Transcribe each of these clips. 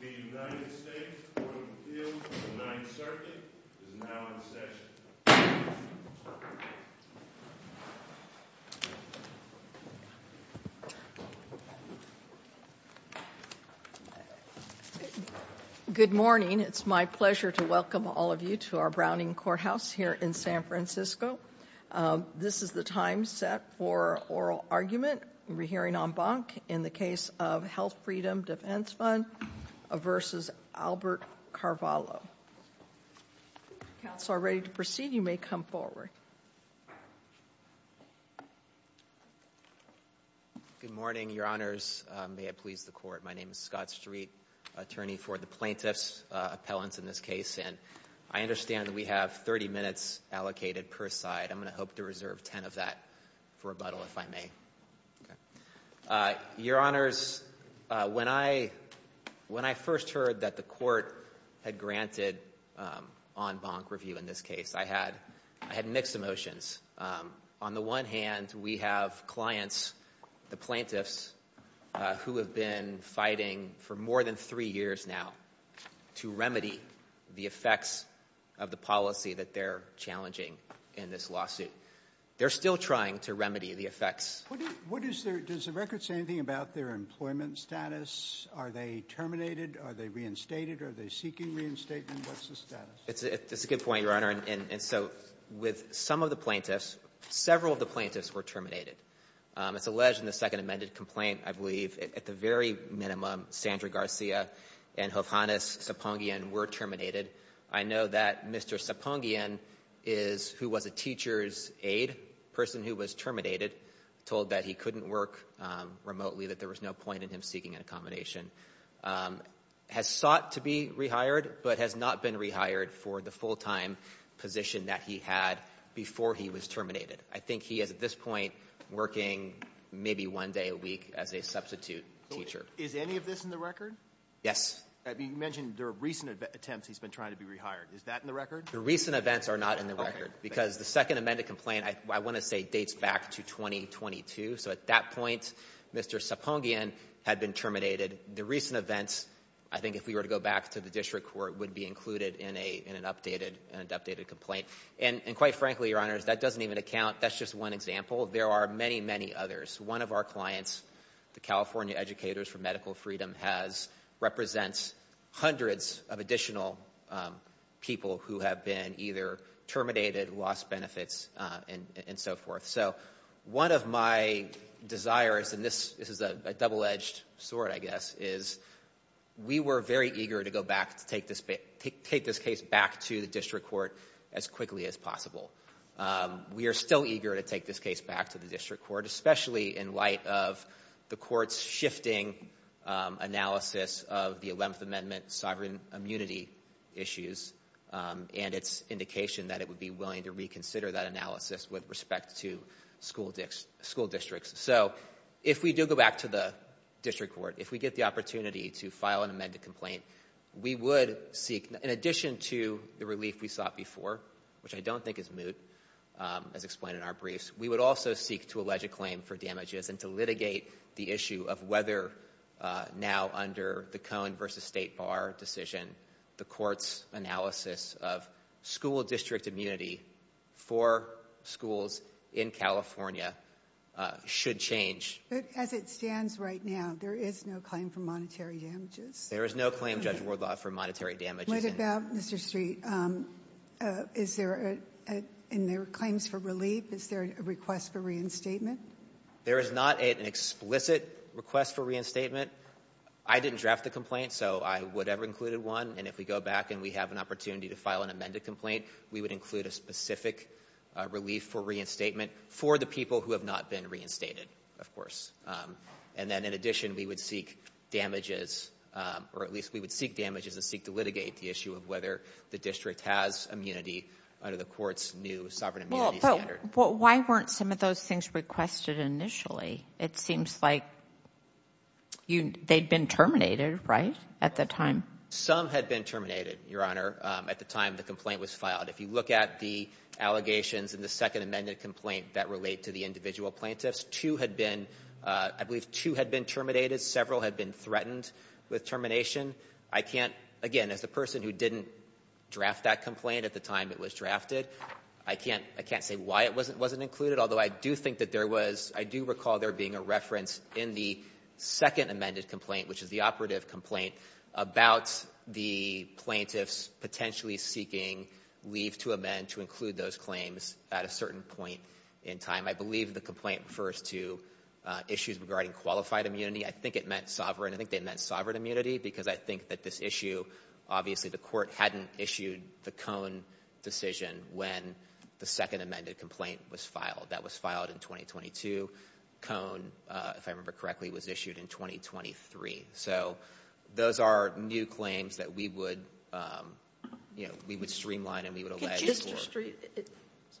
The United States Court of Appeals for the Ninth Circuit is now in session. Good morning. It's my pleasure to welcome all of you to our Browning Courthouse here in San Francisco. This is the time set for oral argument. We'll be hearing en banc in the case of Health Freedom Defense Fund v. Albert Carvalho. If the counsel are ready to proceed, you may come forward. Good morning, your honors. May it please the court, my name is Scott Street, attorney for the plaintiff's appellants in this case. I understand that we have 30 minutes allocated per side. I'm going to hope to reserve 10 of that for rebuttal if I may. Your honors, when I first heard that the court had granted en banc review in this case, I had mixed emotions. On the one hand, we have clients, the plaintiffs, who have been fighting for more than three years now to remedy the effects of the policy that they're challenging in this lawsuit. They're still trying to remedy the effects. Does the record say anything about their employment status? Are they terminated? Are they reinstated? Are they seeking reinstatement? What's the status? It's a good point, your honor, and so with some of the plaintiffs, several of the plaintiffs were terminated. It's alleged in the second amended complaint, I believe, at the very minimum, Sandra Garcia and Jovhanis Sapongian were terminated. I know that Mr. Sapongian is, who was a teacher's aide, a person who was terminated, told that he couldn't work remotely, that there was no point in him seeking an accommodation. Has sought to be rehired, but has not been rehired for the full-time position that he had before he was terminated. I think he is, at this point, working maybe one day a week as a substitute teacher. Is any of this in the record? Yes. You mentioned there are recent attempts he's been trying to be rehired. Is that in the record? The recent events are not in the record because the second amended complaint, I want to say, dates back to 2022. So at that point, Mr. Sapongian had been terminated. The recent events, I think if we were to go back to the district court, would be included in an updated complaint. And quite frankly, your honors, that doesn't even account, that's just one example. There are many, many others. One of our clients, the California Educators for Medical Freedom, represents hundreds of additional people who have been either terminated, lost benefits, and so forth. So one of my desires, and this is a double-edged sword, I guess, is we were very eager to go back, to take this case back to the district court as quickly as possible. We are still eager to take this case back to the district court, especially in light of the court's shifting analysis of the 11th Amendment sovereign immunity issues. And its indication that it would be willing to reconsider that analysis with respect to school districts. So if we do go back to the district court, if we get the opportunity to file an amended complaint, we would seek, in addition to the relief we sought before, which I don't think is moot, as explained in our briefs, we would also seek to allege a claim for damages and to litigate the issue of whether, now under the Cohen v. State Bar decision, the court's analysis of school district immunity for schools in California should change. But as it stands right now, there is no claim for monetary damages. There is no claim, Judge Wardlaw, for monetary damages. The point about, Mr. Street, is there, in their claims for relief, is there a request for reinstatement? There is not an explicit request for reinstatement. I didn't draft the complaint, so I would have included one. And if we go back and we have an opportunity to file an amended complaint, we would include a specific relief for reinstatement for the people who have not been reinstated, of course. And then, in addition, we would seek damages, or at least we would seek damages and seek to litigate the issue of whether the district has immunity under the court's new sovereign immunity standard. But why weren't some of those things requested initially? It seems like they'd been terminated, right, at the time? Some had been terminated, Your Honor, at the time the complaint was filed. If you look at the allegations in the second amended complaint that relate to the individual plaintiffs, two had been, I believe, two had been terminated. Several had been threatened with termination. I can't, again, as the person who didn't draft that complaint at the time it was drafted, I can't say why it wasn't included, although I do think that there was, I do recall there being a reference in the second amended complaint, which is the operative complaint, about the plaintiffs potentially seeking leave to amend to include those claims at a certain point in time. I believe the complaint refers to issues regarding qualified immunity. I think it meant sovereign. I think they meant sovereign immunity because I think that this issue, obviously the court hadn't issued the Cone decision when the second amended complaint was filed. That was filed in 2022. Cone, if I remember correctly, was issued in 2023. So those are new claims that we would, you know, we would streamline and we would allege.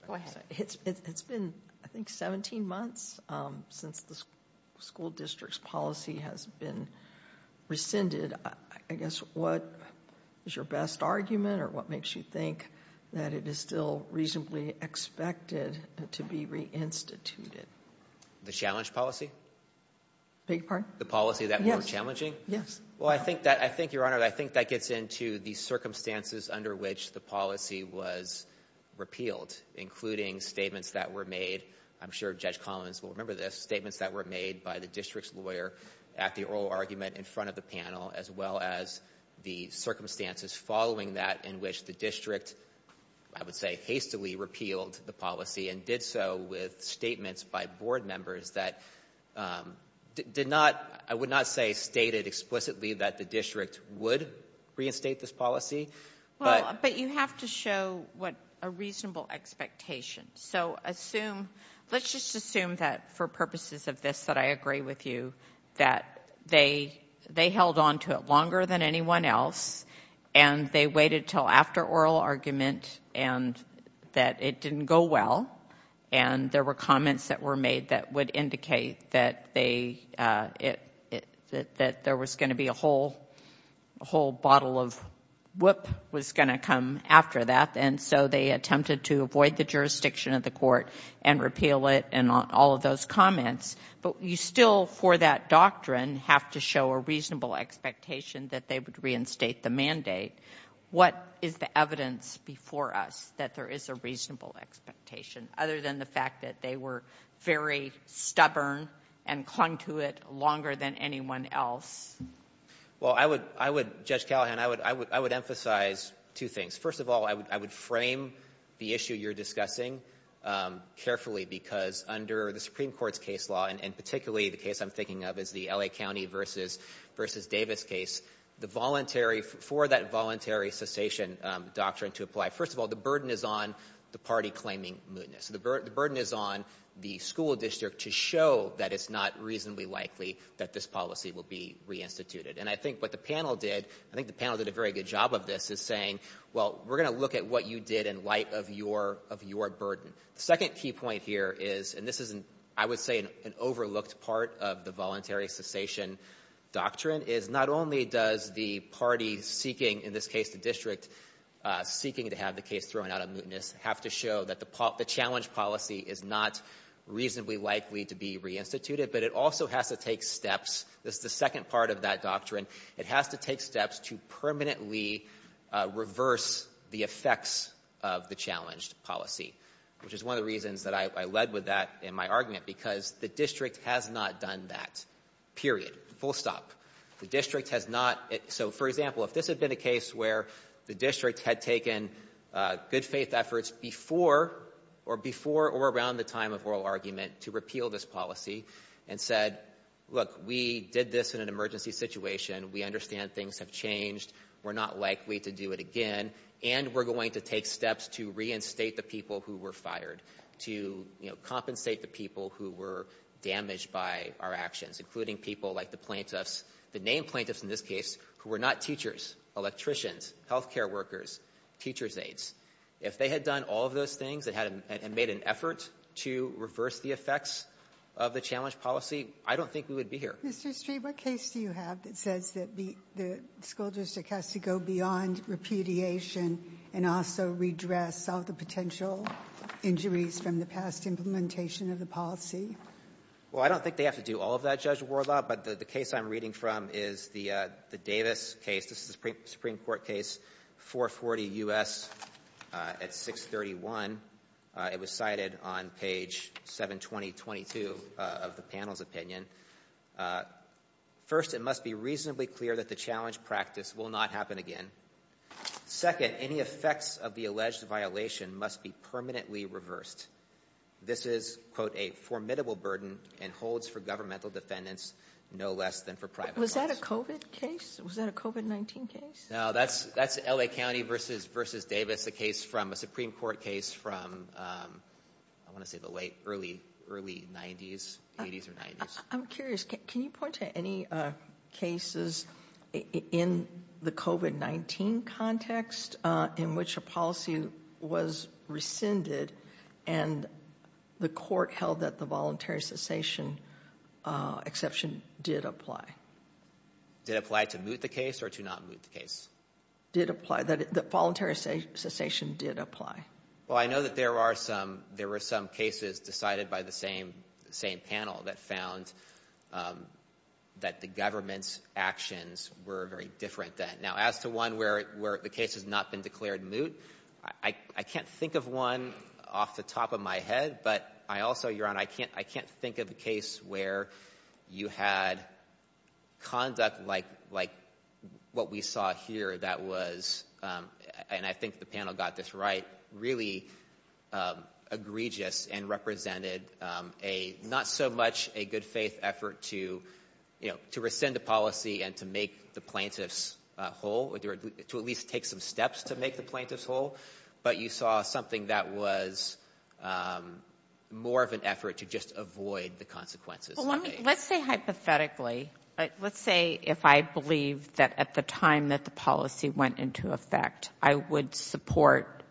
Go ahead. It's been, I think, 17 months since the school district's policy has been rescinded. I guess what is your best argument or what makes you think that it is still reasonably expected to be reinstituted? The challenge policy? Beg your pardon? The policy that we were challenging? Yes. Well, I think that, Your Honor, I think that gets into the circumstances under which the policy was repealed, including statements that were made. I'm sure Judge Collins will remember this, statements that were made by the district's lawyer at the oral argument in front of the panel, as well as the circumstances following that in which the district, I would say, hastily repealed the policy and did so with statements by board members that did not, I would not say stated explicitly that the district would reinstate this policy. Well, but you have to show what a reasonable expectation. So assume, let's just assume that for purposes of this that I agree with you that they held on to it longer than anyone else and they waited until after oral argument and that it didn't go well and there were comments that were made that would indicate that there was going to be a whole bottle of whoop was going to come after that and so they attempted to avoid the jurisdiction of the court and repeal it and all of those comments. But you still, for that doctrine, have to show a reasonable expectation that they would reinstate the mandate. What is the evidence before us that there is a reasonable expectation, other than the fact that they were very stubborn and clung to it longer than anyone else? Well, I would, Judge Callahan, I would emphasize two things. First of all, I would frame the issue you're discussing carefully because under the Supreme Court's case law, and particularly the case I'm thinking of is the L.A. County versus Davis case, for that voluntary cessation doctrine to apply, first of all, the burden is on the party claiming mootness. The burden is on the school district to show that it's not reasonably likely that this policy will be reinstituted. And I think what the panel did, I think the panel did a very good job of this, is saying, well, we're going to look at what you did in light of your burden. The second key point here is, and this is, I would say, an overlooked part of the voluntary cessation doctrine, is not only does the party seeking, in this case the district seeking to have the case thrown out of mootness, have to show that the challenge policy is not reasonably likely to be reinstituted, but it also has to take steps. This is the second part of that doctrine. It has to take steps to permanently reverse the effects of the challenged policy, which is one of the reasons that I led with that in my argument, because the district has not done that, period, full stop. The district has not. So, for example, if this had been a case where the district had taken good-faith efforts before or before or around the time of oral argument to repeal this policy and said, look, we did this in an emergency situation, we understand things have changed, we're not likely to do it again, and we're going to take steps to reinstate the people who were fired, to compensate the people who were damaged by our actions, including people like the plaintiffs, the named plaintiffs in this case, who were not teachers, electricians, health care workers, teachers' aides. If they had done all of those things and made an effort to reverse the effects of the challenged policy, I don't think we would be here. Ginsburg. Mr. Streeve, what case do you have that says that the school district has to go beyond repudiation and also redress all the potential injuries from the past implementation of the policy? Streeve. Well, I don't think they have to do all of that, Judge Wardlaw, but the case I'm reading from is the Davis case, this is the Supreme Court case, 440 U.S. at 631. It was cited on page 72022 of the panel's opinion. First, it must be reasonably clear that the challenged practice will not happen again. Second, any effects of the alleged violation must be permanently reversed. This is, quote, a formidable burden and holds for governmental defendants no less than for private. Was that a COVID case? Was that a COVID-19 case? No, that's that's L.A. County versus versus Davis, a case from a Supreme Court case from I want to say the late, early, early 90s, 80s or 90s. I'm curious, can you point to any cases in the COVID-19 context in which a policy was rescinded and the court held that the voluntary cessation exception did apply? Did apply to moot the case or to not moot the case? Did apply. The voluntary cessation did apply. Well, I know that there are some, there were some cases decided by the same panel that found that the government's actions were very different then. Now, as to one where the case has not been declared moot, I can't think of one off the top of my head, but I also, Your Honor, I can't think of a case where you had conduct like what we saw here that was, and I think the panel got this right, really egregious and represented a not so much a good faith effort to, you know, to rescind a policy and to make the plaintiff's whole or to at least take some steps to make the plaintiff's whole, but you saw something that was more of an effort to just avoid the consequences. Let's say hypothetically, let's say if I believe that at the time that the policy went into effect, I would support,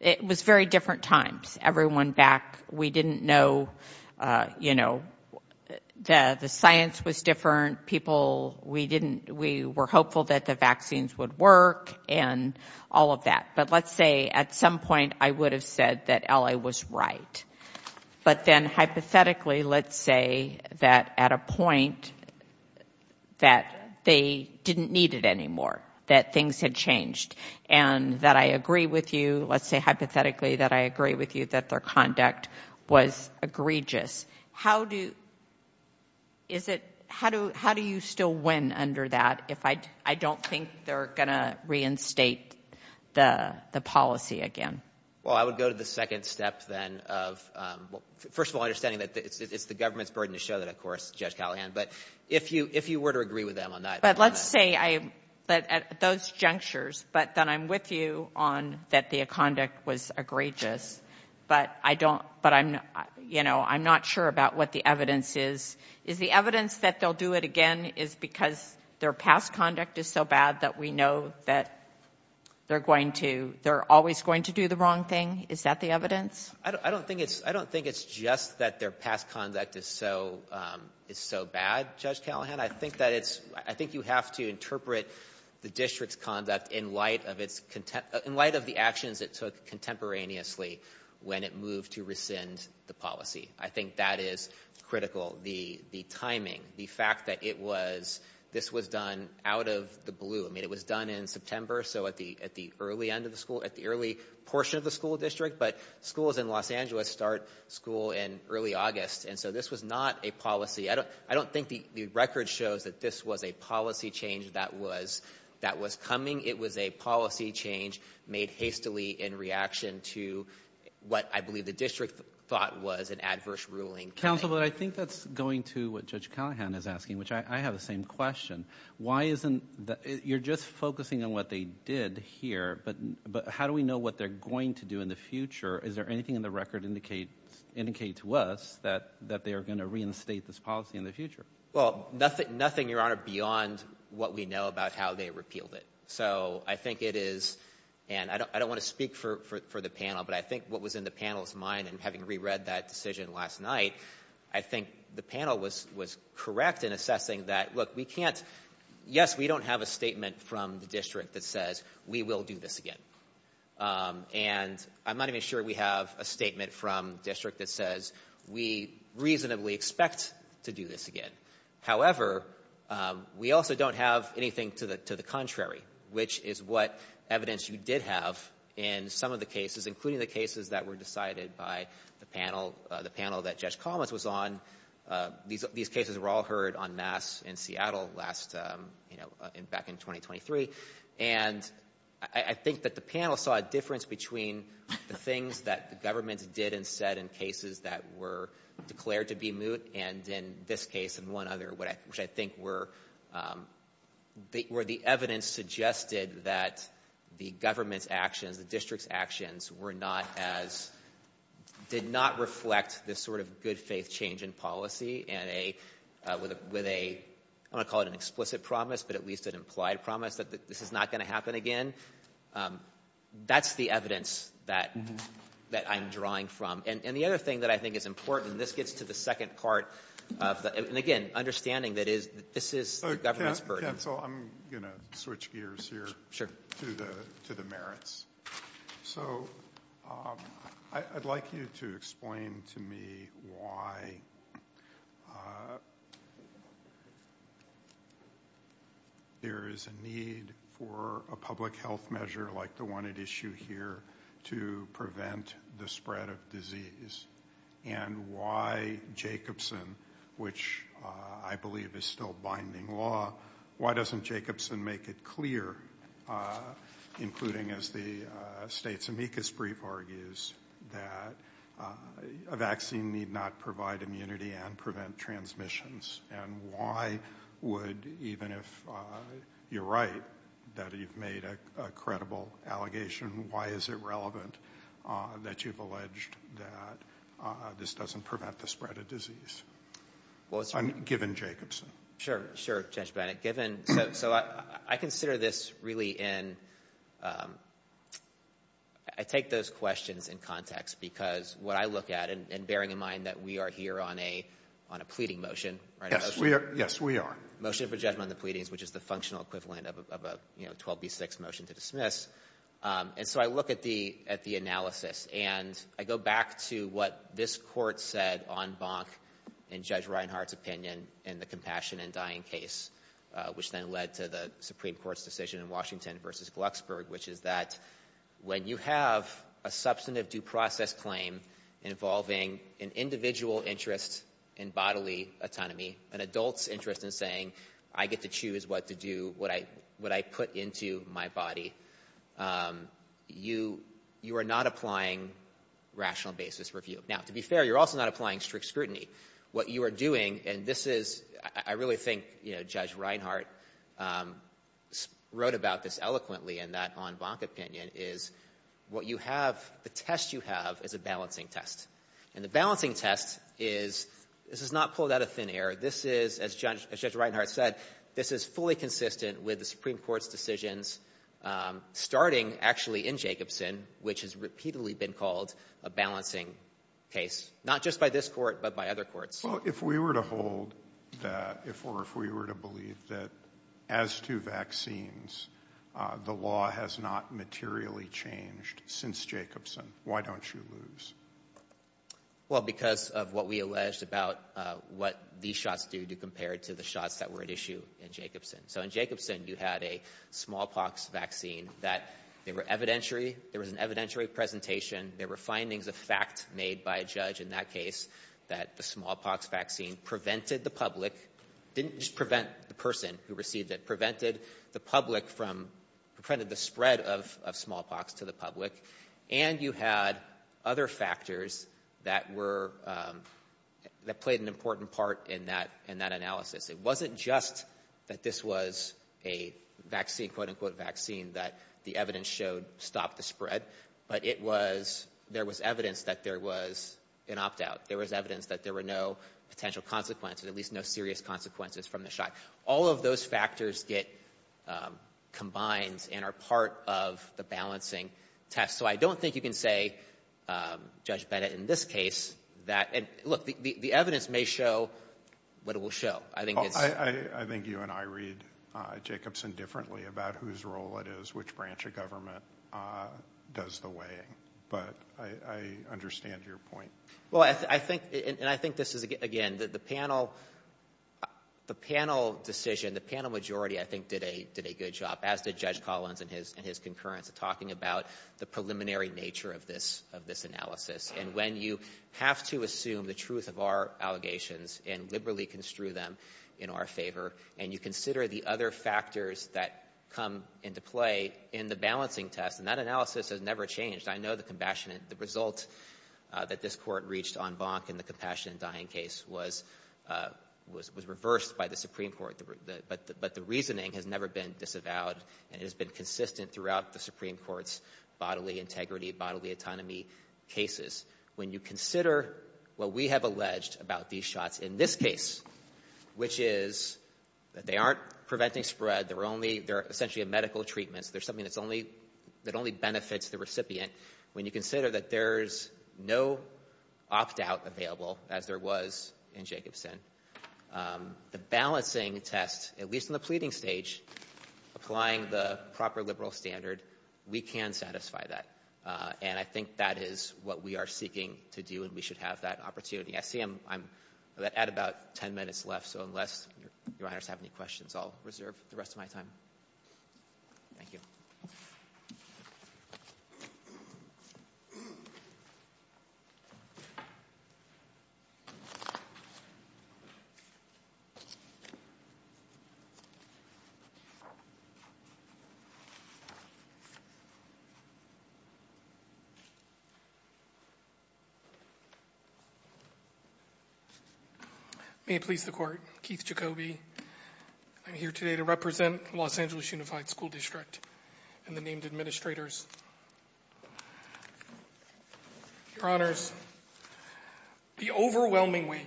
it was very different times. Everyone back, we didn't know, you know, the science was different. People, we didn't, we were hopeful that the vaccines would work and all of that, but let's say at some point I would have said that L.A. was right, but then hypothetically, let's say that at a point that they didn't need it anymore, that things had changed, and that I agree with you, let's say hypothetically that I agree with you that their conduct was egregious, how do you still win under that if I don't think they're going to reinstate the policy again? Well, I would go to the second step then of, first of all, understanding that it's the government's burden to show that, of course, Judge Callahan, but if you were to agree with them on that. But let's say I, at those junctures, but then I'm with you on that the conduct was egregious, but I don't, but I'm, you know, I'm not sure about what the evidence is. Is the evidence that they'll do it again is because their past conduct is so bad that we know that they're going to, they're always going to do the wrong thing? Is that the evidence? I don't think it's, I don't think it's just that their past conduct is so, is so bad, Judge Callahan. I think that it's, I think you have to interpret the district's conduct in light of its, in light of the actions it took contemporaneously when it moved to rescind the policy. I think that is critical. The timing, the fact that it was, this was done out of the blue. I mean, it was done in September, so at the early end of the school, at the early portion of the school district, but schools in Los Angeles start school in early August, and so this was not a policy. I don't think the record shows that this was a policy change that was, that was coming. It was a policy change made hastily in reaction to what I believe the district thought was an adverse ruling. Counsel, but I think that's going to what Judge Callahan is asking, which I have the same question. Why isn't the, you're just focusing on what they did here, but how do we know what they're going to do in the future? Is there anything in the record indicate, indicate to us that, that they are going to reinstate this policy in the future? Well, nothing, nothing, Your Honor, beyond what we know about how they repealed it. So I think it is, and I don't, I don't want to speak for, for, for the panel, but I think what was in the panel's mind, and having reread that decision last night, I think the panel was, was correct in assessing that, look, we can't, yes, we don't have a statement from the district that says, we will do this again. And I'm not even sure we have a statement from the district that says, we reasonably expect to do this again. However, we also don't have anything to the, to the contrary, which is what evidence you did have in some of the cases, including the cases that were decided by the panel, the panel that Judge Collins was on. These, these cases were all heard en masse in Seattle last, you know, back in 2023. And I, I think that the panel saw a difference between the things that the government did and said in cases that were declared to be moot, and in this case and one other, which I think were, were the evidence suggested that the government's actions, the district's actions were not as, did not reflect this sort of good faith change in policy, and a, with a, I don't want to call it an explicit promise, but at least an implied promise that this is not going to happen again. That's the evidence that, that I'm drawing from. And, and the other thing that I think is important, and this gets to the second part of the, and again, understanding that is, this is the government's burden. So I'm going to switch gears here. Sure. To the, to the merits. So I'd like you to explain to me why there is a need for a public health measure like the one at issue here to prevent the spread of disease, and why Jacobson, which I believe is still binding law, why doesn't Jacobson make it clear, including as the state's amicus brief argues, that a vaccine need not provide immunity and prevent transmissions, and why would, even if you're right, that you've made a credible allegation, why is it relevant that you've alleged that this doesn't prevent the spread of disease? Well, it's... Given Jacobson. Sure, sure, Judge Bennett. Given, so, so I, I consider this really in, I take those questions in context, because what I look at, and bearing in mind that we are here on a, on a pleading motion, right? Yes, we are, yes, we are. Motion for judgment on the pleadings, which is the functional equivalent of a, of a, you know, 12B6 motion to dismiss, and so I look at the, at the analysis, and I go back to what this Court said on Bonk and Judge Reinhart's opinion in the Compassion and Dying case, which then led to the Supreme Court's decision in Washington versus Glucksburg, which is that when you have a substantive due process claim involving an individual interest in bodily autonomy, an adult's interest in saying, I get to choose what to do, what I, what I put into my body, you, you are not applying rational basis review. Now, to be fair, you're also not applying strict scrutiny. What you are doing, and this is, I, I really think, you know, Judge Reinhart wrote about this eloquently in that on Bonk opinion, is what you have, the test you have is a balancing test, and the balancing test is, this is not pulled out of thin air. This is, as Judge, as Judge Reinhart said, this is fully consistent with the Supreme Court's decisions, starting actually in Jacobson, which has repeatedly been called a balancing case, not just by this Court, but by other courts. Well, if we were to hold that, if, or if we were to believe that as to vaccines, the law has not materially changed since Jacobson, why don't you lose? Well, because of what we alleged about what these shots do, do compared to the shots that were at issue in Jacobson. So in Jacobson, you had a smallpox vaccine that they were evidentiary. There was an evidentiary presentation. There were findings of fact made by a judge in that case, that the smallpox vaccine prevented the public, didn't just prevent the person who received it, prevented the public from, prevented the spread of, of smallpox to the public. And you had other factors that were, that played an important part in that, in that analysis. It wasn't just that this was a vaccine, quote unquote vaccine, that the evidence showed stopped the spread, but it was, there was evidence that there was an opt-out. There was evidence that there were no potential consequences, at least no serious consequences from the shot. All of those factors get combined and are part of the balancing test. So I don't think you can say, Judge Bennett, in this case, that, and look, the evidence may show what it will show. I think it's. I read Jacobson differently about whose role it is, which branch of government does the weighing. But I understand your point. Well, I think, and I think this is, again, the panel, the panel decision, the panel majority, I think, did a, did a good job, as did Judge Collins and his, and his concurrence, talking about the preliminary nature of this, of this analysis. And when you assume the truth of our allegations and liberally construe them in our favor, and you consider the other factors that come into play in the balancing test, and that analysis has never changed. I know the compassionate, the result that this court reached on Bonk in the compassionate dying case was, was reversed by the Supreme Court. But the reasoning has never been disavowed, and it has been consistent throughout the Supreme Court's many cases. When you consider what we have alleged about these shots in this case, which is that they aren't preventing spread, they're only, they're essentially medical treatments, they're something that's only, that only benefits the recipient. When you consider that there's no opt-out available, as there was in Jacobson, the balancing test, at least in the pleading stage, applying the proper liberal standard, we can satisfy that. And I think that is what we are seeking to do, and we should have that opportunity. I see I'm, I'm at about ten minutes left, so unless your, your honors have any questions, I'll reserve the rest of my time. Thank you. May it please the court, Keith Jacoby. I'm here today to represent Los Angeles Unified School District and the named administrators. Your honors, the overwhelming weight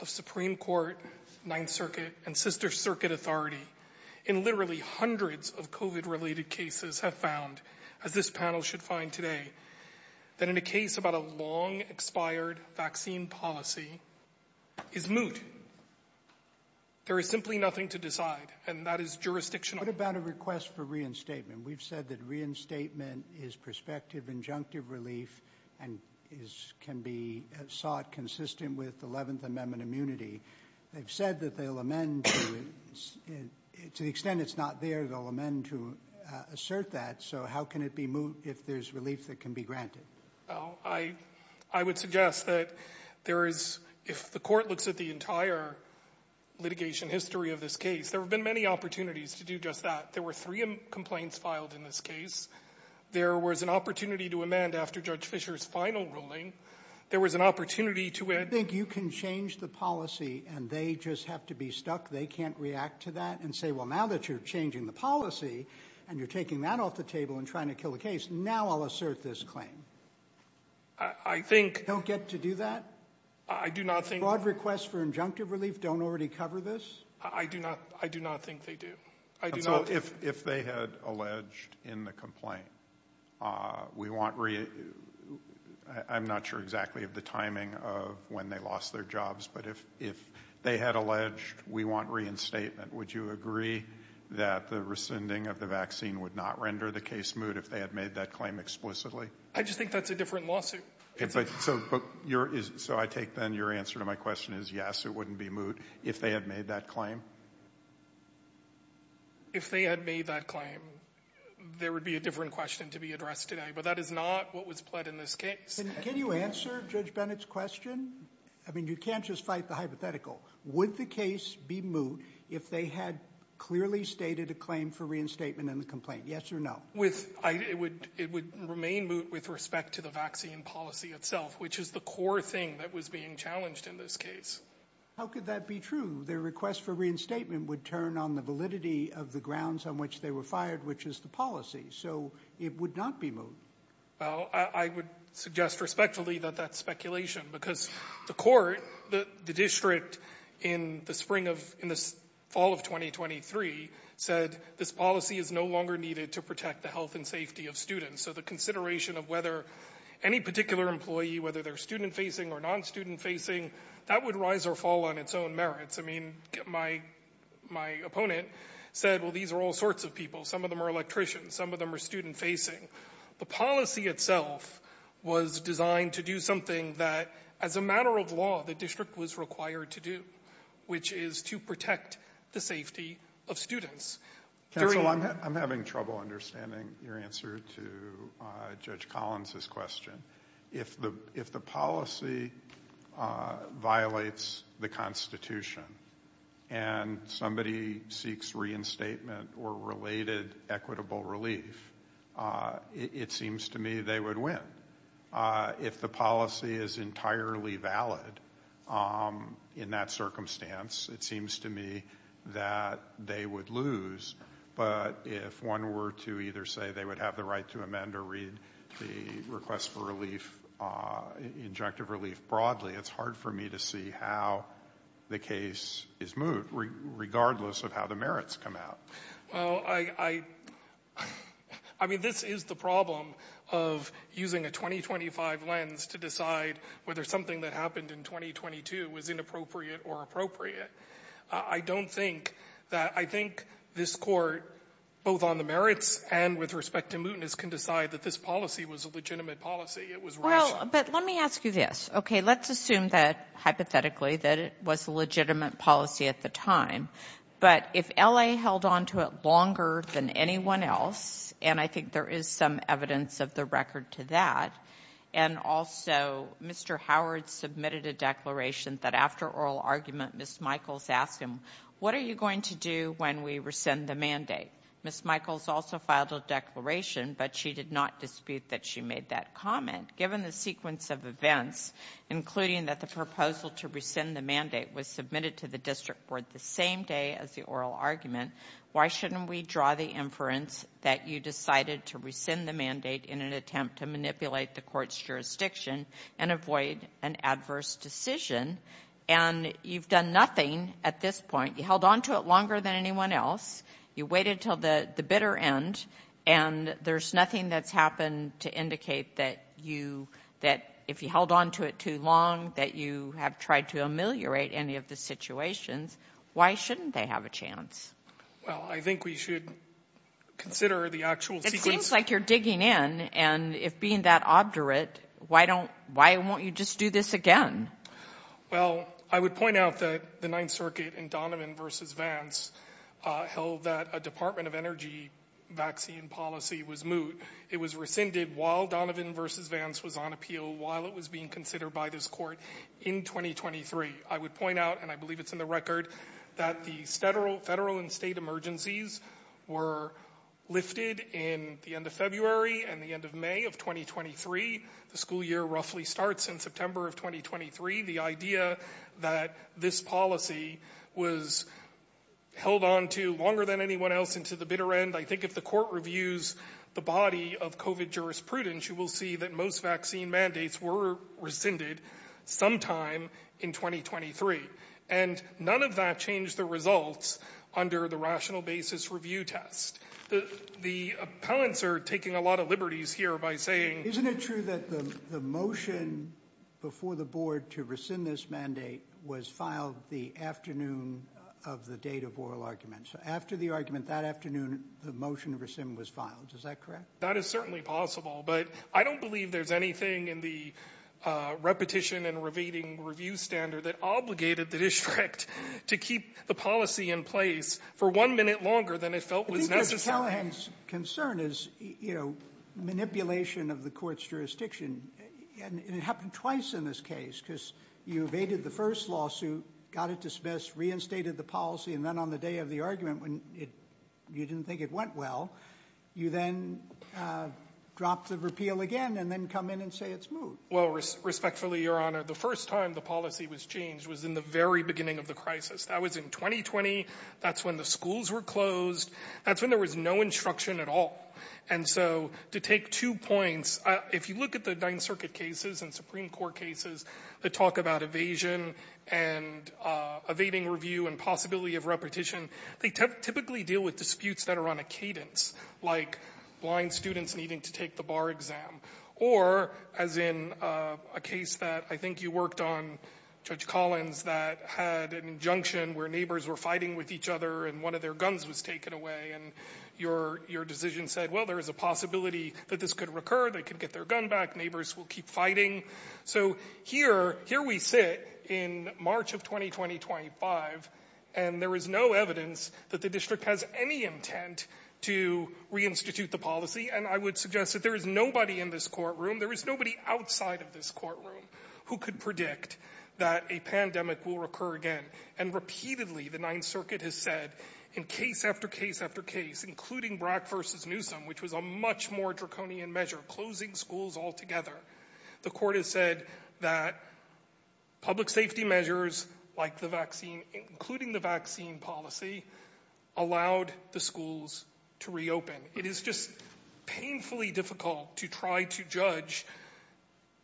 of Supreme Court, Ninth Circuit, and Inter-Circuit Authority in literally hundreds of COVID-related cases have found, as this panel should find today, that in a case about a long-expired vaccine policy is moot. There is simply nothing to decide, and that is jurisdictional. What about a request for reinstatement? We've said that reinstatement is prospective injunctive relief and is, can be sought consistent with Eleventh Amendment immunity. They've said that they'll amend to, to the extent it's not there, they'll amend to assert that. So how can it be moot if there's relief that can be granted? I, I would suggest that there is, if the court looks at the entire litigation history of this case, there have been many opportunities to do just that. There were three complaints filed in this case. There was an opportunity to amend after Judge Fischer's final ruling. There was an opportunity to add. I think you can change the policy and they just have to be stuck. They can't react to that and say, well, now that you're changing the policy and you're taking that off the table and trying to kill the case, now I'll assert this claim. I think. Don't get to do that? I do not think. Broad requests for injunctive relief don't already cover this? I do not. I do not think they do. I do not. So if, if they had alleged in the complaint, we want re, I'm not sure exactly of the timing of when they lost their jobs, but if, if they had alleged we want reinstatement, would you agree that the rescinding of the vaccine would not render the case moot if they had made that claim explicitly? I just think that's a different lawsuit. So your is, so I take then your answer to my question is yes, it wouldn't be moot if they had made that claim. If they had made that claim, there would be a different question to be addressed today, but that is not what was pled in this case. Can you answer Judge Bennett's question? I mean, you can't just fight the hypothetical. Would the case be moot if they had clearly stated a claim for reinstatement in the complaint? Yes or no? With I, it would, it would remain moot with respect to the vaccine policy itself, which is the core thing that was being challenged in this case. How could that be true? Their request for reinstatement would turn on the validity of the grounds on which they were fired, which is the policy. So it would not be moot. Well, I would suggest respectfully that that's speculation because the court, the district in the spring of, in the fall of 2023 said this policy is no longer needed to protect the health and safety of students. So the consideration of whether any particular employee, whether they're student facing or non-student facing, that would rise or fall on its own merits. I mean, my, my opponent said, well, these are all sorts of people. Some of them are electricians. Some of them are student facing. The policy itself was designed to do something that as a matter of law, the district was required to do, which is to protect the safety of students. Counsel, I'm having trouble understanding your answer to Judge Collins's question. If the, if the policy violates the Constitution and somebody seeks reinstatement or related equitable relief, it seems to me they would win. If the policy is entirely valid in that circumstance, it seems to me that they would lose. But if one were to either say they would have the right to amend or read the request for relief, injunctive relief broadly, it's hard for me to see how the case is moot, regardless of how the merits come out. Well, I, I, I mean, this is the problem of using a 2025 lens to decide whether something that happened in 2022 was inappropriate or appropriate. I don't think that, I think this Court, both on the merits and with respect to mootness, can decide that this policy was a legitimate policy. It was rational. Well, but let me ask you this. Okay, let's assume that, hypothetically, that it was a legitimate policy at the time. But if L.A. held on to it longer than anyone else, and I think there is some evidence of the record to that, and also Mr. Howard submitted a declaration that after oral argument, Ms. Michaels asked him, what are you going to do when we rescind the mandate? Ms. Michaels also filed a declaration, but she did not dispute that she made that comment. Given the sequence of events, including that the proposal to rescind the mandate was submitted to the district board the same day as the oral argument, why shouldn't we draw the inference that you decided to rescind the mandate in an attempt to manipulate the Court's jurisdiction and avoid an adverse decision? And you've done nothing at this point. You held on to it longer than anyone else. You waited until the bitter end, and there's nothing that's happened to indicate that you, that if you held on to it too long, that you have tried to ameliorate any of the situations, why shouldn't they have a chance? Well, I think we should consider the actual sequence. It seems like you're digging in, and if being that obdurate, why don't, why won't you just do this again? Well, I would point out that the Ninth Circuit in Donovan v. Vance held that a Department of Energy vaccine policy was moot. It was rescinded while Donovan v. Vance was on appeal, while it was being considered by this Court in 2023. I would point out, and I believe it's in the record, that the federal and state emergencies were lifted in the end of February and the end of May of 2023. The school year roughly starts in September of 2023. The idea that this policy was held on to longer than anyone else and to the bitter end, I think if the Court reviews the body of COVID jurisprudence, you will see that most vaccine mandates were rescinded sometime in 2023. And none of that changed the results under the rational basis review test. The appellants are taking a lot of liberties here by saying— The motion before the Board to rescind this mandate was filed the afternoon of the date of oral argument. So after the argument that afternoon, the motion to rescind was filed. Is that correct? That is certainly possible, but I don't believe there's anything in the repetition and evading review standard that obligated the district to keep the policy in place for one minute longer than it felt was necessary. Mr. Callahan's concern is, you know, manipulation of the Court's jurisdiction. And it happened twice in this case because you evaded the first lawsuit, got it dismissed, reinstated the policy, and then on the day of the argument when you didn't think it went well, you then dropped the repeal again and then come in and say it's moved. Well, respectfully, Your Honor, the first time the policy was changed was in the very beginning of the crisis. That was in 2020. That's when the schools were closed. That's when there was no instruction at all. And so to take two points, if you look at the Ninth Circuit cases and Supreme Court cases that talk about evasion and evading review and possibility of repetition, they typically deal with disputes that are on a cadence, like blind students needing to take the bar exam or, as in a case that I think you worked on, Judge Collins, that had an injunction where neighbors were fighting with each other and one of their guns was taken away. And your decision said, well, there is a possibility that this could recur. They could get their gun back. Neighbors will keep fighting. So here we sit in March of 2020-25, and there is no evidence that the district has any intent to reinstitute the policy. And I would suggest that there is nobody in this courtroom, there is nobody outside of this courtroom, who could predict that a pandemic will recur again. And repeatedly, the Ninth Circuit has said, in case after case after case, including Brack v. Newsom, which was a much more draconian measure, closing schools altogether, the court has said that public safety measures like the vaccine, including the vaccine policy, allowed the schools to reopen. It is just painfully difficult to try to judge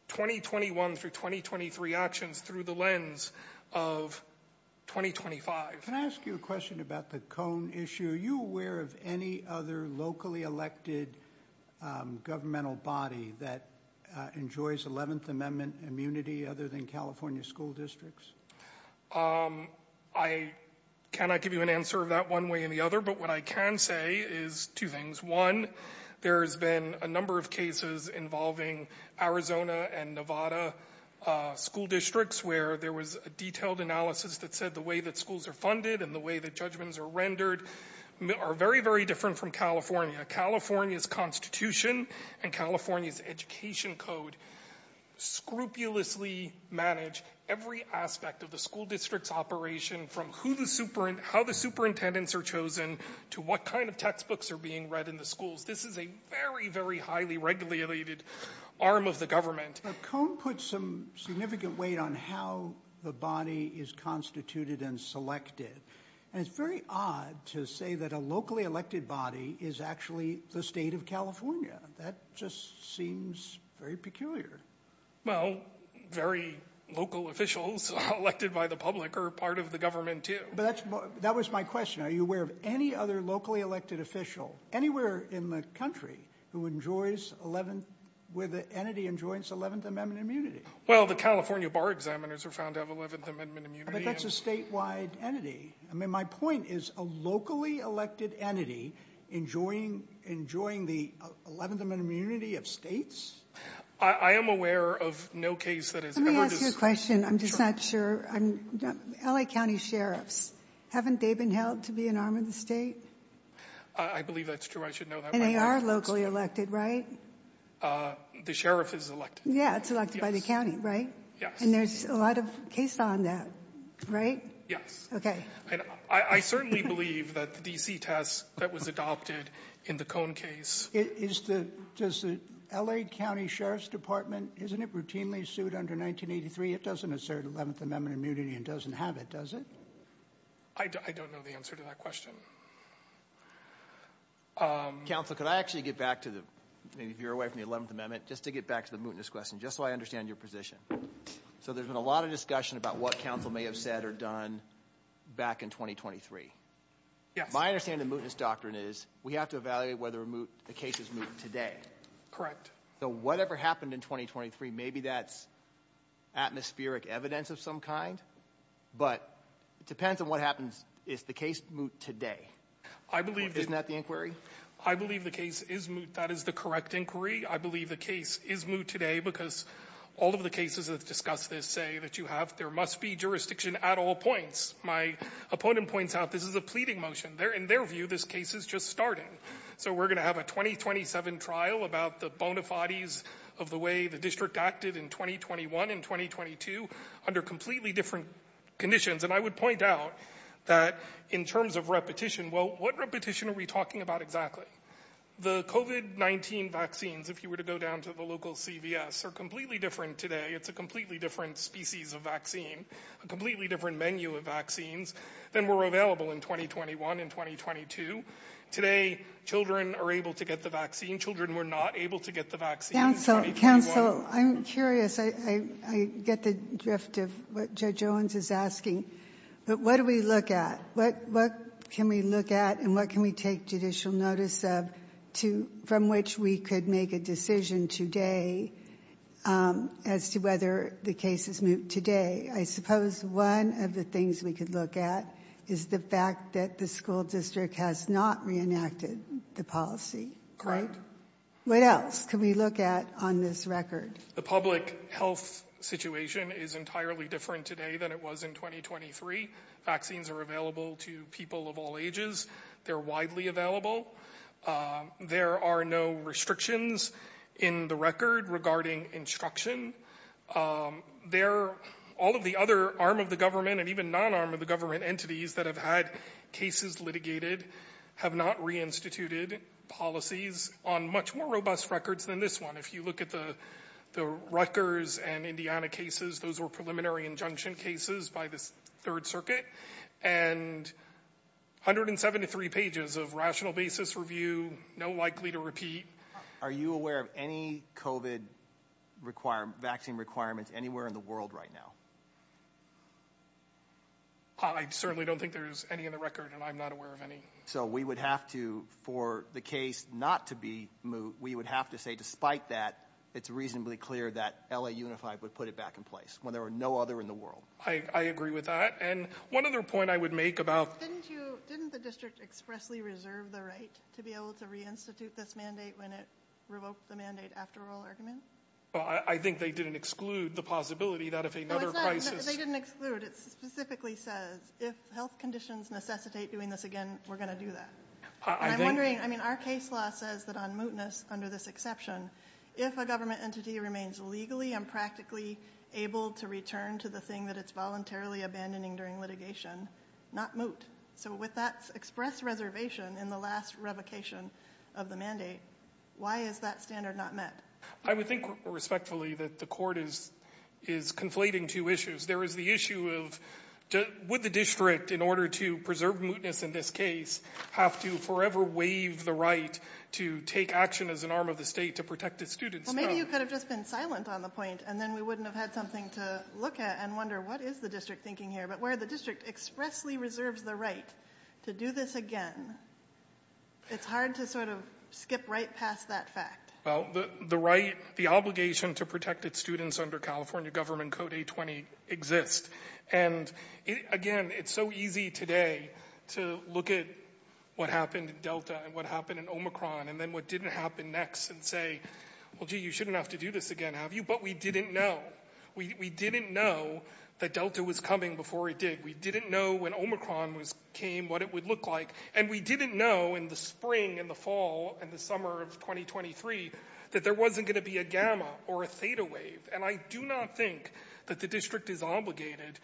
2021 through 2023 actions through the lens of 2025. Can I ask you a question about the Cone issue? Are you aware of any other locally elected governmental body that enjoys 11th Amendment immunity other than California school districts? I cannot give you an answer of that one way or the other, but what I can say is two things. One, there has been a number of cases involving Arizona and Nevada school districts where there was a detailed analysis that said the way that schools are funded and the way that judgments are rendered are very, very different from California. California's constitution and California's education code scrupulously manage every aspect of the school district's operation from how the superintendents are chosen to what kind of textbooks are being read in the schools. This is a very, very highly regulated arm of the government. The Cone puts some significant weight on how the body is constituted and selected. And it's very odd to say that a locally elected body is actually the state of California. That just seems very peculiar. Well, very local officials elected by the public are part of the government too. That was my question. Are you aware of any other locally elected official anywhere in the country who enjoys 11th, where the entity enjoys 11th Amendment immunity? Well, the California bar examiners are found to have 11th Amendment immunity. But that's a statewide entity. I mean, my point is a locally elected entity enjoying the 11th Amendment immunity of states? I am aware of no case that has ever... Let me ask you a question. I'm just not sure. LA County sheriffs, haven't they been held to be an arm of the state? I believe that's true. I should know that. And they are locally elected, right? The sheriff is elected. Yeah, it's elected by the county, right? Yes. And there's a lot of case law on that, right? Yes. Okay. I certainly believe that the DC test that was adopted in the Cone case... Does the LA County Sheriff's Department, isn't it routinely sued under 1983? It doesn't assert 11th Amendment immunity and doesn't have it, does it? I don't know the answer to that question. Counsel, could I actually get back to the... Maybe if you're away from the 11th Amendment, just to get back to the mootness question, just so I understand your position. So there's been a lot of discussion about what counsel may have said or done back in 2023. Yes. My understanding of the mootness doctrine is we have to evaluate whether a case is moot today. Correct. So whatever happened in 2023, maybe that's atmospheric evidence of some kind. But it depends on what happens. Is the case moot today? I believe... Isn't that the inquiry? I believe the case is moot. That is the correct inquiry. I believe the case is moot today because all of the cases that discuss this say that you have... There must be jurisdiction at all points. My opponent points out this is a pleading motion. In their view, this case is just starting. So we're going to have a 2027 trial about the bona fides of the way the district acted in 2021 and 2022 under completely different conditions. And I would point out that in terms of repetition, well, what repetition are we talking about exactly? The COVID-19 vaccines, if you were to go down to the local CVS, are completely different today. It's a completely different species of vaccine, a completely different menu of vaccines than were available in 2021 and 2022. Today, children are able to get the vaccine. Children were not able to get the vaccine in 2021. Council, I'm curious. I get the drift of what Judge Owens is asking. But what do we look at? What can we look at and what can we take judicial notice of from which we could make a decision today as to whether the case is moot today? I suppose one of the things we could look at is the fact that the school district has not reenacted the policy. What else can we look at on this record? The public health situation is entirely different today than it was in 2023. Vaccines are available to people of all ages. They're widely available. There are no restrictions in the record regarding instruction. All of the other arm of the government and even non-arm of the government entities that have had cases litigated have not reinstituted policies on much more robust records than this one. If you look at the Rutgers and Indiana cases, those were preliminary injunction cases by the Third Circuit. And 173 pages of rational basis review, no likely to repeat. Are you aware of any COVID vaccine requirements anywhere in the world right now? I certainly don't think there's any in the record and I'm not aware of any. So we would have to, for the case not to be moot, we would have to say despite that, it's reasonably clear that LA Unified would put it back in place when there were no other in the world. I agree with that. And one other point I would make about- Didn't the district expressly reserve the right to be able to reinstitute this mandate when it revoked the mandate after oral argument? I think they didn't exclude the possibility that if another crisis- They didn't exclude. It specifically says if health conditions necessitate doing this again, we're going to do that. I'm wondering, I mean our case law says that on mootness under this exception, if a government entity remains legally and practically able to return to the thing that it's voluntarily abandoning during litigation, not moot. So with that express reservation in the last revocation of the mandate, why is that standard not met? I would think respectfully that the court is conflating two issues. There is the issue of would the district, in order to preserve mootness in this case, have to forever waive the right to take action as an arm of the state to protect its students from- Well maybe you could have just been silent on the point and then we wouldn't have had something to look at and wonder what is the district thinking here. But where the district expressly reserves the right to do this again, it's hard to sort of skip right past that fact. Well the obligation to protect its students under California government code A-20 exists. And again, it's so easy today to look at what happened in Delta and what happened in Omicron and then what didn't happen next and say, well gee, you shouldn't have to do this again, have you? But we didn't know. We didn't know that Delta was coming before it did. We didn't know when Omicron came, what it would look like. And we didn't know in the spring and the fall and the summer of 2023 that there wasn't going to be a gamma or a theta wave. And I do not think that the district is obligated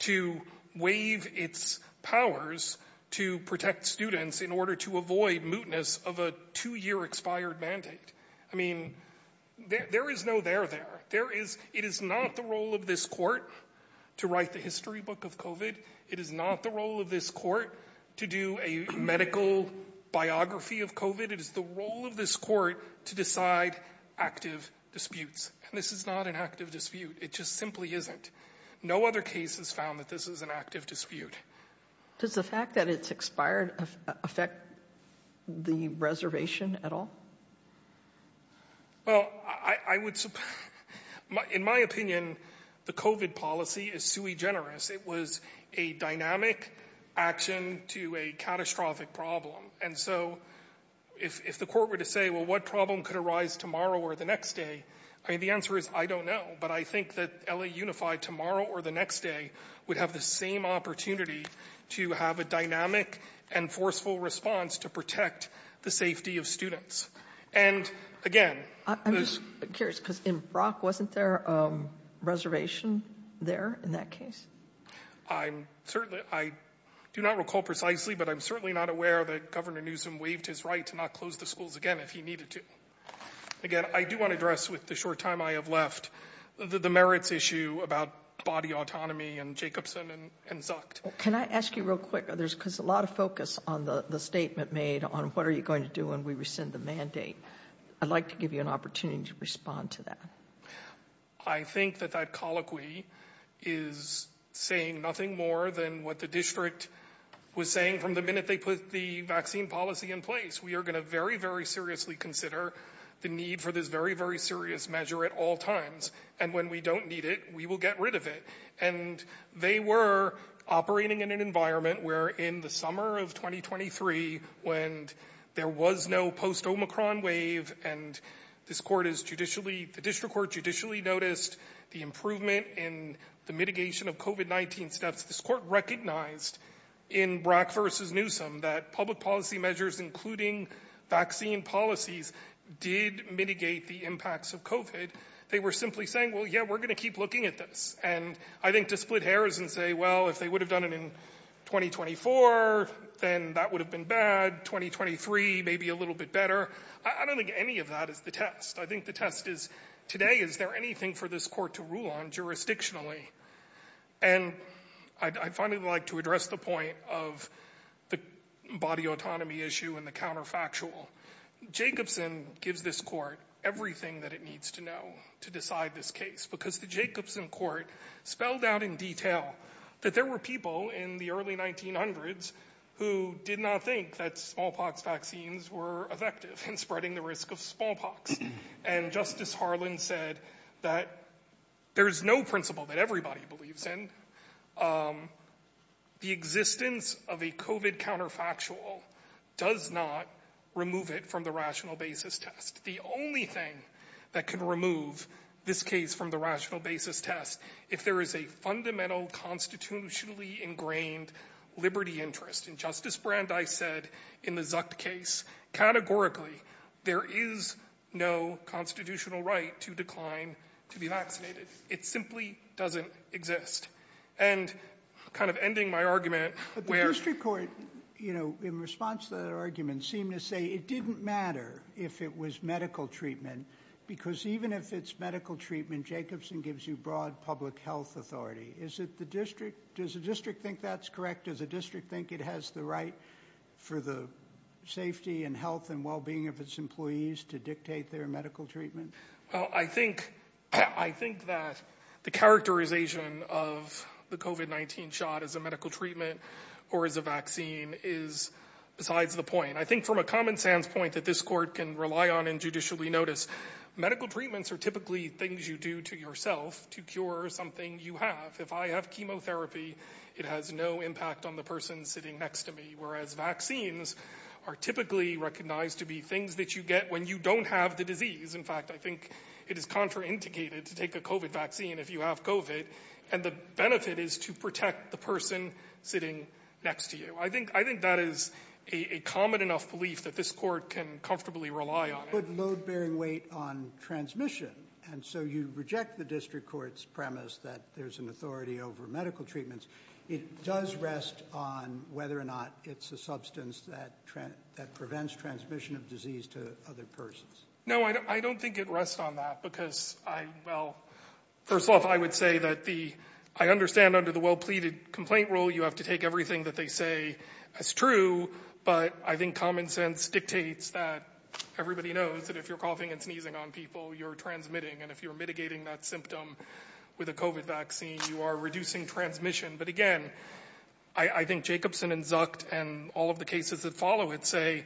to waive its powers to protect students in order to avoid mootness of a two-year expired mandate. I mean, there is no there there. It is not the role of this court to write the history book of COVID. It is not the role of this court to do a medical biography of COVID. It is the role of this court to decide active disputes. And this is not an active dispute. It just simply isn't. No other case has found that this is an active dispute. Does the fact that it's expired affect the reservation at all? Well, in my opinion, the COVID policy is sui generis. It was a dynamic action to a catastrophic problem. And so if the court were to say, well, what problem could arise tomorrow or the next day? I mean, the answer is I don't know. But I think that LA Unified tomorrow or the next day would have the same opportunity to have a dynamic and forceful response to protect the safety of students. And again, I'm just curious, because in Brock, wasn't there a reservation there in that case? I'm certainly I do not recall precisely, but I'm certainly not aware that Governor Newsom waived his right to not close the schools again if he needed to. Again, I do want to address with the short time I have left the merits issue about body autonomy and Jacobson and sucked. Can I ask you real quick? There's a lot of focus on the statement made on what are you going to do when we rescind the mandate? I'd like to give you an opportunity to respond to that. I think that that colloquy is saying nothing more than what the district was saying from the minute they put the vaccine policy in place. We are going to very, very seriously consider the need for this very, very serious measure at all times. And when we don't need it, we will get rid of it. And they were operating in an environment where in the summer of twenty twenty three, when there was no post Omicron wave. And this court is judicially the district court judicially noticed the improvement in the mitigation of covid-19 steps. This court recognized in Brock versus Newsome that public policy measures, including vaccine policies, did mitigate the impacts of covid. They were simply saying, well, yeah, we're going to keep looking at this. And I think to split hairs and say, well, if they would have done it in twenty twenty four, then that would have been bad. Twenty twenty three, maybe a little bit better. I don't think any of that is the test. I think the test is today. Is there anything for this court to rule on jurisdictionally? And I'd finally like to address the point of the body autonomy issue and the counterfactual Jacobson gives this court everything that it needs to know to decide this case, because the Jacobson court spelled out in detail that there were people in the early nineteen hundreds who did not think that smallpox vaccines were effective in spreading the risk of smallpox. And Justice Harlan said that there is no principle that everybody believes in the existence of a covid counterfactual does not remove it from the rational basis test. The only thing that can remove this case from the rational basis test, if there is a fundamental constitutionally ingrained liberty interest in Justice Brand, as I said in the Zuck case, categorically, there is no constitutional right to decline to be vaccinated. It simply doesn't exist. And kind of ending my argument. But the district court, you know, in response to that argument, seem to say it didn't matter if it was medical treatment, because even if it's medical treatment, Jacobson gives you broad public health authority. Is it the district? Does the district think that's correct? Does the district think it has the right for the safety and health and well-being of its employees to dictate their medical treatment? Well, I think I think that the characterization of the covid-19 shot as a medical treatment or as a vaccine is besides the point, and I think from a common sense point that this court can rely on and judicially notice, medical treatments are typically things you do to yourself to cure something you have. If I have chemotherapy, it has no impact on the person sitting next to me, whereas vaccines are typically recognized to be things that you get when you don't have the disease. In fact, I think it is contraindicated to take a covid vaccine if you have covid. And the benefit is to protect the person sitting next to you. So I think I think that is a common enough belief that this court can comfortably rely on. But load bearing weight on transmission. And so you reject the district court's premise that there's an authority over medical treatments. It does rest on whether or not it's a substance that that prevents transmission of disease to other persons. No, I don't think it rests on that because I well, first off, I would say that the I understand under the well pleaded complaint rule, you have to take everything that they say is true. But I think common sense dictates that everybody knows that if you're coughing and sneezing on people, you're transmitting. And if you're mitigating that symptom with a covid vaccine, you are reducing transmission. But again, I think Jacobson and Zucked and all of the cases that follow it say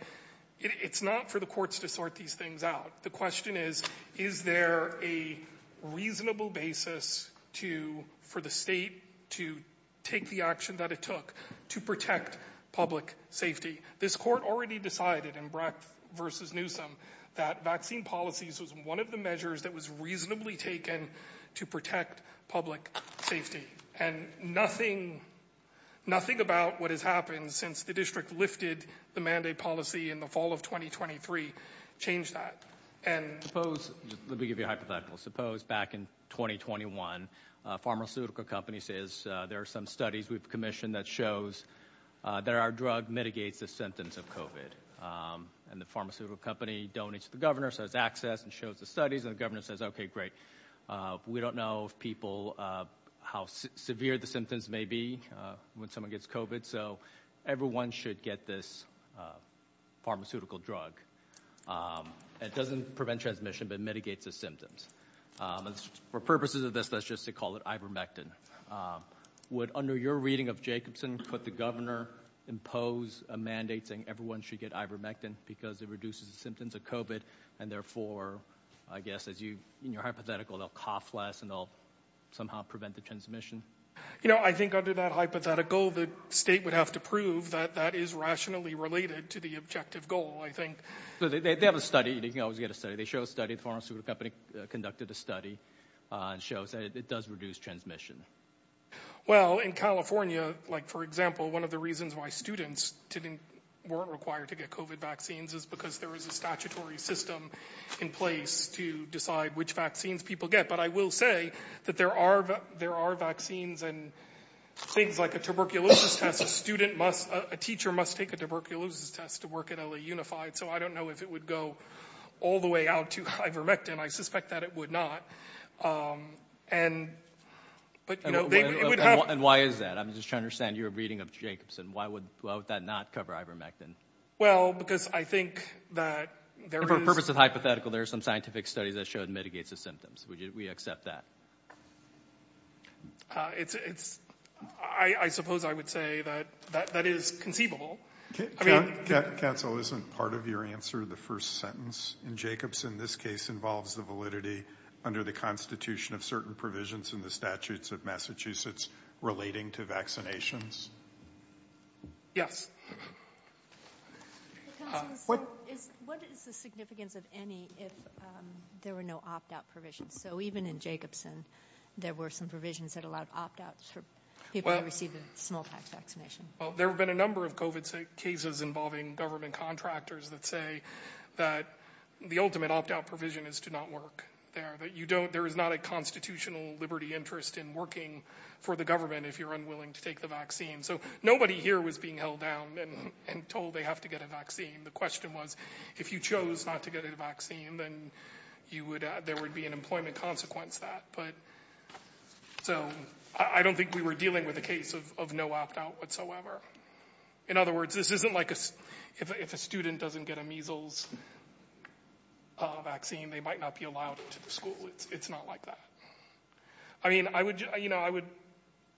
it's not for the courts to sort these things out. The question is, is there a reasonable basis to for the state to take the action that it took to protect public safety? This court already decided in Breck versus Newsome that vaccine policies was one of the measures that was reasonably taken to protect public safety. And nothing, nothing about what has happened since the district lifted the mandate policy in the fall of 2023 changed that. And suppose let me give you a hypothetical. Suppose back in 2021, pharmaceutical company says there are some studies we've commissioned that shows there are drug mitigates the symptoms of covid. And the pharmaceutical company donates the governor says access and shows the studies and the governor says, OK, great. We don't know if people how severe the symptoms may be when someone gets covid. So everyone should get this pharmaceutical drug. It doesn't prevent transmission, but mitigates the symptoms for purposes of this. That's just to call it ivermectin. Would under your reading of Jacobson put the governor impose a mandate saying everyone should get ivermectin because it reduces the symptoms of covid. And therefore, I guess, as you in your hypothetical, they'll cough less and they'll somehow prevent the transmission. You know, I think under that hypothetical, the state would have to prove that that is rationally related to the objective goal. I think they have a study. You can always get a study. They show a study. Pharmaceutical company conducted a study shows that it does reduce transmission. Well, in California, like, for example, one of the reasons why students didn't weren't required to get covid vaccines is because there is a statutory system in place to decide which vaccines people get. But I will say that there are there are vaccines and things like a tuberculosis test. A student must a teacher must take a tuberculosis test to work at a unified. So I don't know if it would go all the way out to ivermectin. I suspect that it would not. And but, you know, and why is that? I'm just trying to send you a reading of Jacobson. Why would that not cover ivermectin? Well, because I think that there is a purpose of hypothetical. There are some scientific studies that showed mitigates the symptoms. We accept that. It's I suppose I would say that that is conceivable. Council isn't part of your answer. The first sentence in Jacobson. This case involves the validity under the Constitution of certain provisions in the statutes of Massachusetts relating to vaccinations. Yes. What is what is the significance of any if there were no opt out provisions? So even in Jacobson, there were some provisions that allowed opt outs for people to receive a small tax vaccination. Well, there have been a number of covid cases involving government contractors that say that the ultimate opt out provision is to not work there. That you don't there is not a constitutional liberty interest in working for the government if you're unwilling to take the vaccine. So nobody here was being held down and told they have to get a vaccine. The question was, if you chose not to get a vaccine, then you would there would be an employment consequence that. But so I don't think we were dealing with a case of no opt out whatsoever. In other words, this isn't like if a student doesn't get a measles vaccine, they might not be allowed to the school. It's not like that. I mean, I would you know, I would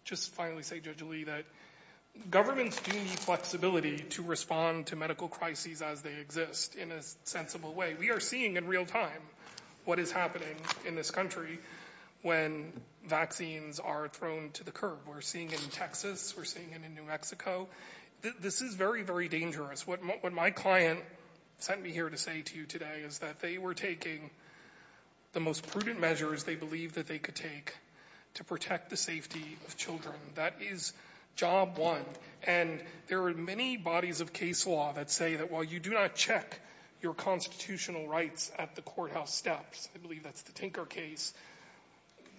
just finally say judgely that governments do need flexibility to respond to medical crises as they exist in a sensible way. We are seeing in real time what is happening in this country when vaccines are thrown to the curb. We're seeing it in Texas. We're seeing it in New Mexico. This is very, very dangerous. What my client sent me here to say to you today is that they were taking the most prudent measures they believe that they could take to protect the safety of children. That is job one. And there are many bodies of case law that say that while you do not check your constitutional rights at the courthouse steps, I believe that's the Tinker case.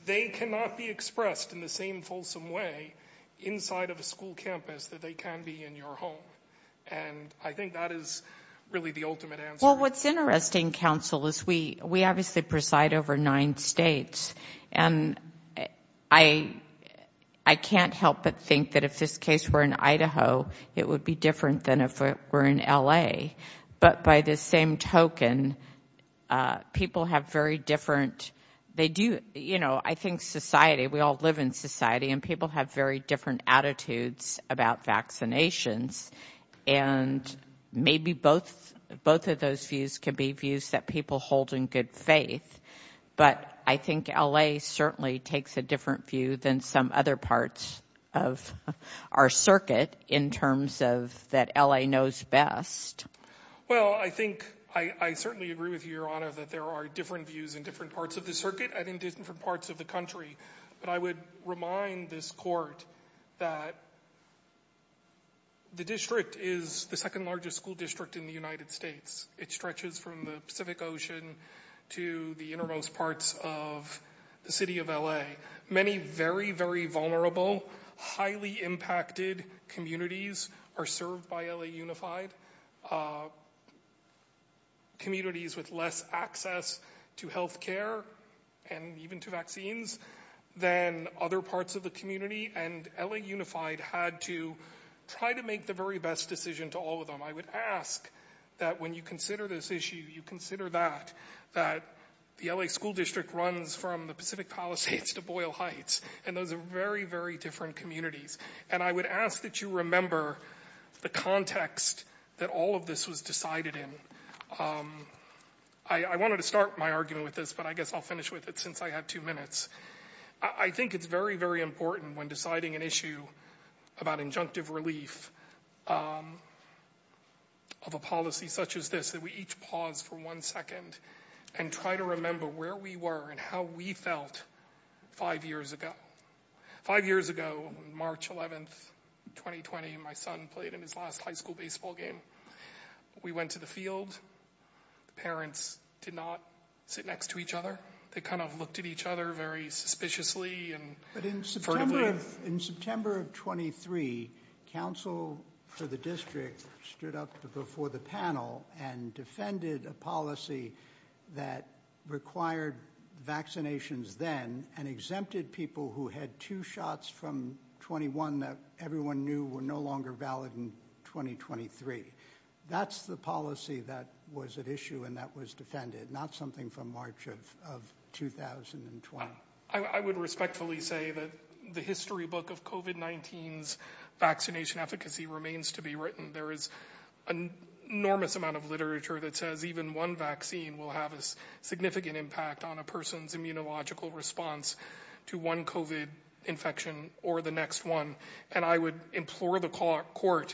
They cannot be expressed in the same fulsome way inside of a school campus that they can be in your home. And I think that is really the ultimate answer. Well, what's interesting, counsel, is we we obviously preside over nine states. And I, I can't help but think that if this case were in Idaho, it would be different than if we're in L.A. But by the same token, people have very different. They do. You know, I think society we all live in society and people have very different attitudes about vaccinations. And maybe both both of those views can be views that people hold in good faith. But I think L.A. certainly takes a different view than some other parts of our circuit in terms of that L.A. knows best. Well, I think I certainly agree with you, Your Honor, that there are different views in different parts of the circuit and in different parts of the country. But I would remind this court that. The district is the second largest school district in the United States. It stretches from the Pacific Ocean to the innermost parts of the city of L.A. Many very, very vulnerable, highly impacted communities are served by L.A. unified. Communities with less access to health care and even to vaccines than other parts of the community. And L.A. unified had to try to make the very best decision to all of them. I would ask that when you consider this issue, you consider that that the L.A. school district runs from the Pacific Palisades to Boyle Heights. And those are very, very different communities. And I would ask that you remember the context that all of this was decided in. I wanted to start my argument with this, but I guess I'll finish with it since I have two minutes. I think it's very, very important when deciding an issue about injunctive relief of a policy such as this, that we each pause for one second and try to remember where we were and how we felt five years ago. Five years ago, March 11th, 2020, my son played in his last high school baseball game. We went to the field. Parents did not sit next to each other. They kind of looked at each other very suspiciously and furtively. In September of 23, council for the district stood up before the panel and defended a policy that required vaccinations then and exempted people who had two shots from 21 that everyone knew were no longer valid in 2023. That's the policy that was at issue and that was defended, not something from March of 2020. I would respectfully say that the history book of COVID-19's vaccination efficacy remains to be written. There is an enormous amount of literature that says even one vaccine will have a significant impact on a person's immunological response to one COVID infection or the next one. And I would implore the court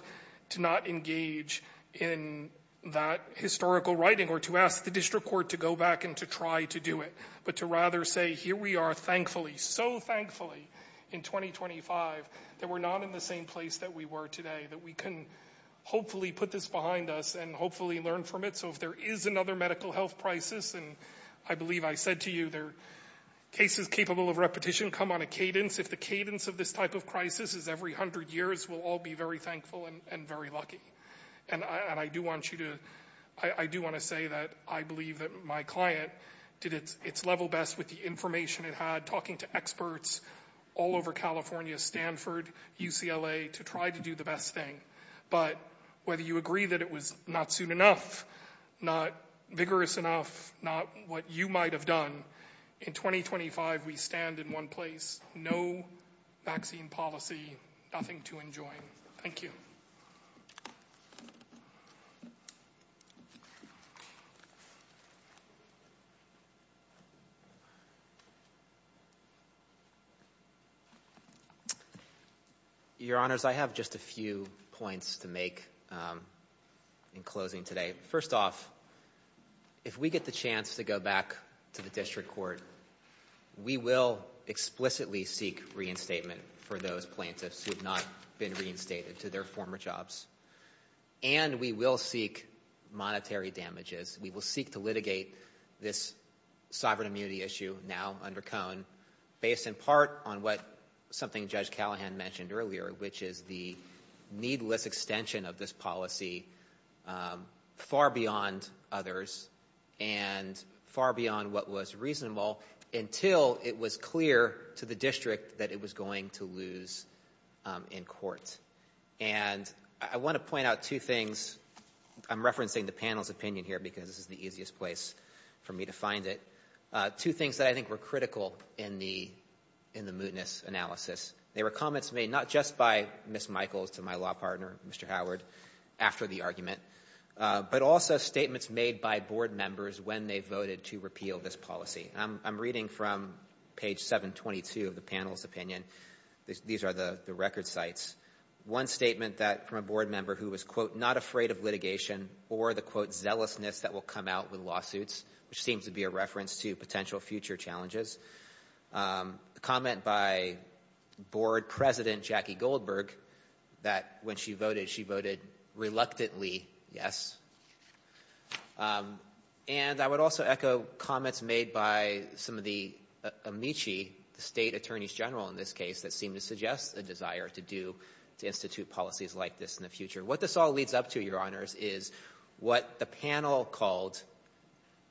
to not engage in that historical writing or to ask the district court to go back and to try to do it, but to rather say here we are thankfully, so thankfully in 2025 that we're not in the same place that we were today, that we can hopefully put this behind us and hopefully learn from it. So if there is another medical health crisis, and I believe I said to you there are cases capable of repetition come on a cadence. If the cadence of this type of crisis is every hundred years, we'll all be very thankful and very lucky. And I do want to say that I believe that my client did its level best with the information it had, talking to experts all over California, Stanford, UCLA to try to do the best thing. But whether you agree that it was not soon enough, not vigorous enough, not what you might have done, in 2025 we stand in one place, no vaccine policy, nothing to enjoy. Thank you. Your Honors, I have just a few points to make in closing today. First off, if we get the chance to go back to the district court, we will explicitly seek reinstatement for those plaintiffs who have not been reinstated to their former jobs. And we will seek monetary damages. We will seek to litigate this sovereign immunity issue now under Cone, based in part on what something Judge Callahan mentioned earlier, which is the needless extension of this policy far beyond others and far beyond what was reasonable until it was clear to the district that it was going to lose in court. And I want to point out two things. I'm referencing the panel's opinion here because this is the easiest place for me to find it. Two things that I think were critical in the mootness analysis. They were comments made not just by Ms. Michaels to my law partner, Mr. Howard, after the argument, but also statements made by board members when they voted to repeal this policy. I'm reading from page 722 of the panel's opinion. These are the record sites. One statement from a board member who was, quote, not afraid of litigation or the, quote, zealousness that will come out with lawsuits, which seems to be a reference to potential future challenges. A comment by board president Jackie Goldberg that when she voted, she voted reluctantly yes. And I would also echo comments made by some of the amici, the state attorneys general in this case, that seem to suggest a desire to institute policies like this in the future. What this all leads up to, Your Honors, is what the panel called,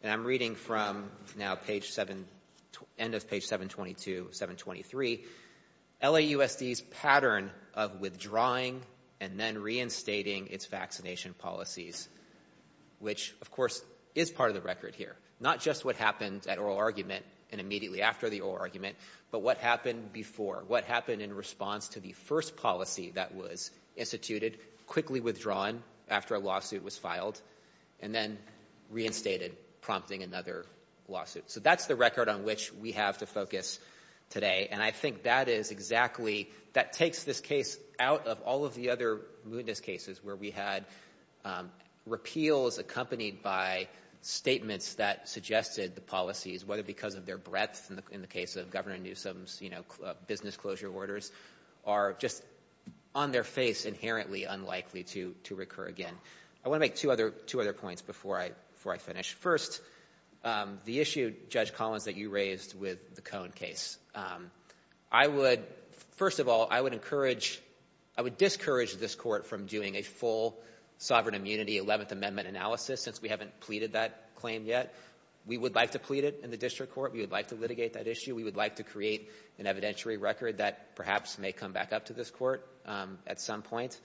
and I'm reading from now end of page 722, 723, LAUSD's pattern of withdrawing and then reinstating its vaccination policies, which, of course, is part of the record here. Not just what happened at oral argument and immediately after the oral argument, but what happened before, what happened in response to the first policy that was instituted quickly withdrawn after a lawsuit was filed and then reinstated, prompting another lawsuit. So that's the record on which we have to focus today. And I think that is exactly, that takes this case out of all of the other mootness cases where we had repeals accompanied by statements that suggested the policies, whether because of their breadth in the case of Governor Newsom's, you know, would be unlikely to recur again. I want to make two other points before I finish. First, the issue, Judge Collins, that you raised with the Cohn case. I would, first of all, I would encourage, I would discourage this court from doing a full sovereign immunity 11th Amendment analysis since we haven't pleaded that claim yet. We would like to plead it in the district court. We would like to litigate that issue. We would like to create an evidentiary record that perhaps may come back up to this court at some point.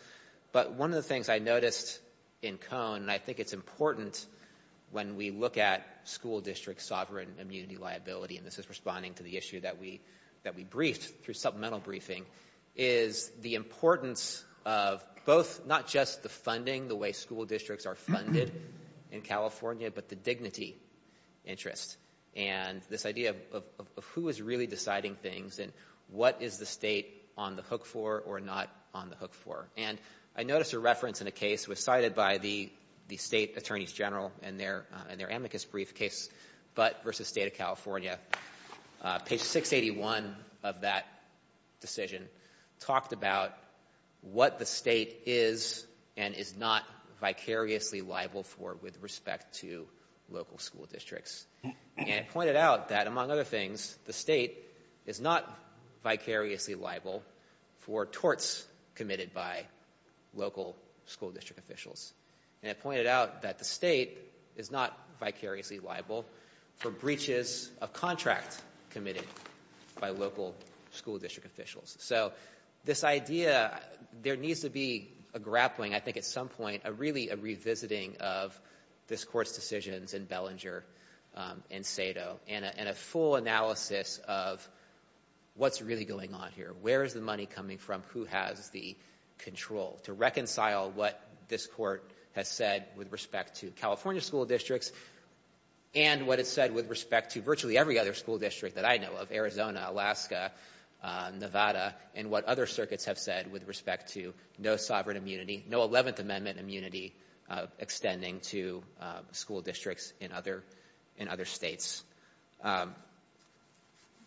But one of the things I noticed in Cohn, and I think it's important when we look at school district sovereign immunity liability, and this is responding to the issue that we, that we briefed through supplemental briefing, is the importance of both, not just the funding the way school districts are funded in California, but the dignity interest. And this idea of who is really deciding things and what is the State on the hook for or not on the hook for. And I noticed a reference in a case was cited by the State Attorneys General in their amicus brief case, Butt v. State of California. Page 681 of that decision talked about what the State is and is not vicariously liable for with respect to local school districts. And it pointed out that among other things, the State is not vicariously liable for torts committed by local school district officials. And it pointed out that the State is not vicariously liable for breaches of contracts committed by local school district officials. So this idea, there needs to be a grappling, I think at some point, a really a revisiting of this court's decisions in Bellinger and Sado, and a full analysis of what's really going on here. Where is the money coming from? Who has the control to reconcile what this court has said with respect to California school districts and what it said with respect to virtually every other school district that I know of, Arizona, Alaska, Nevada, and what other circuits have said with respect to no sovereign immunity, no Eleventh Amendment immunity extending to school districts in other States.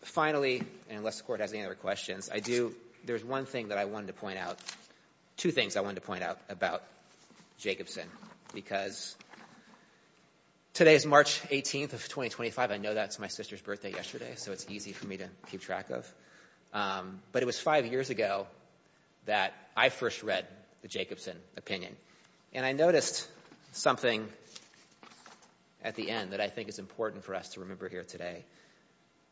Finally, and unless the Court has any other questions, I do, there's one thing that I wanted to point out, two things I wanted to point out about Jacobson, because today is March 18th of 2025. I know that's my sister's birthday yesterday, so it's easy for me to keep track of. But it was five years ago that I first read the Jacobson opinion, and I noticed something at the end that I think is important for us to remember here today.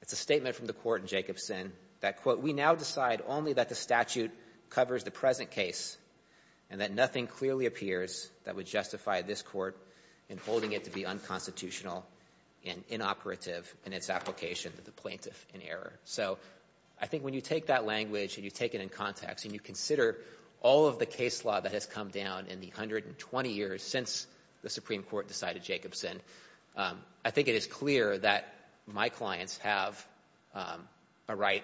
It's a statement from the Court in Jacobson that, quote, we now decide only that the statute covers the present case and that nothing clearly appears that would justify this court in holding it to be unconstitutional and inoperative in its application to the plaintiff in error. So I think when you take that language and you take it in context and you consider all of the case law that has come down in the 120 years since the Supreme Court decided Jacobson, I think it is clear that my clients have a right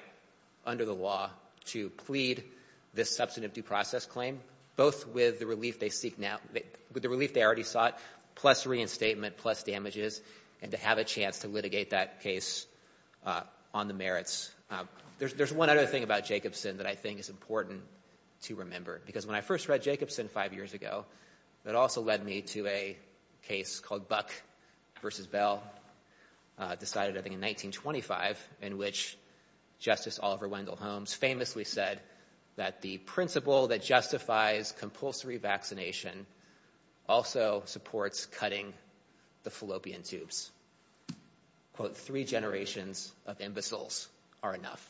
under the law to plead this substantive due process claim, both with the relief they seek now, with the relief they already sought, plus reinstatement, plus damages, and to have a chance to litigate that case on the merits. There's one other thing about Jacobson that I think is important to remember, because when I first read Jacobson five years ago, it also led me to a case called Buck v. Bell, decided I think in 1925, in which Justice Oliver Wendell Holmes famously said that the principle that justifies compulsory vaccination also supports cutting the fallopian tubes. Quote, three generations of imbeciles are enough.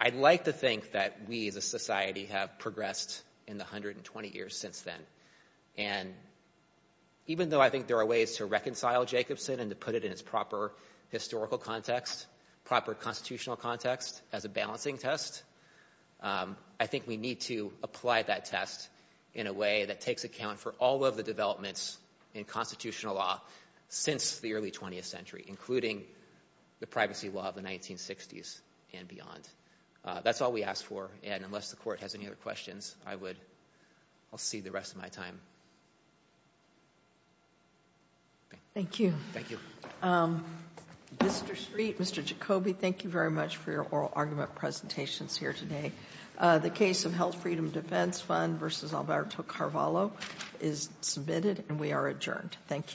I'd like to think that we as a society have progressed in the 120 years since then, and even though I think there are ways to reconcile Jacobson and to put it in its proper historical context, proper constitutional context, as a balancing test, I think we need to apply that test in a way that takes account for all of the developments in constitutional law since the early 20th century, including the privacy law of the 1960s and beyond. That's all we ask for. And unless the Court has any other questions, I would see the rest of my time. Thank you. Thank you. Mr. Street, Mr. Jacoby, thank you very much for your oral argument presentations here today. The case of Health Freedom Defense Fund v. Alberto Carvalho is submitted, and we are adjourned. Thank you.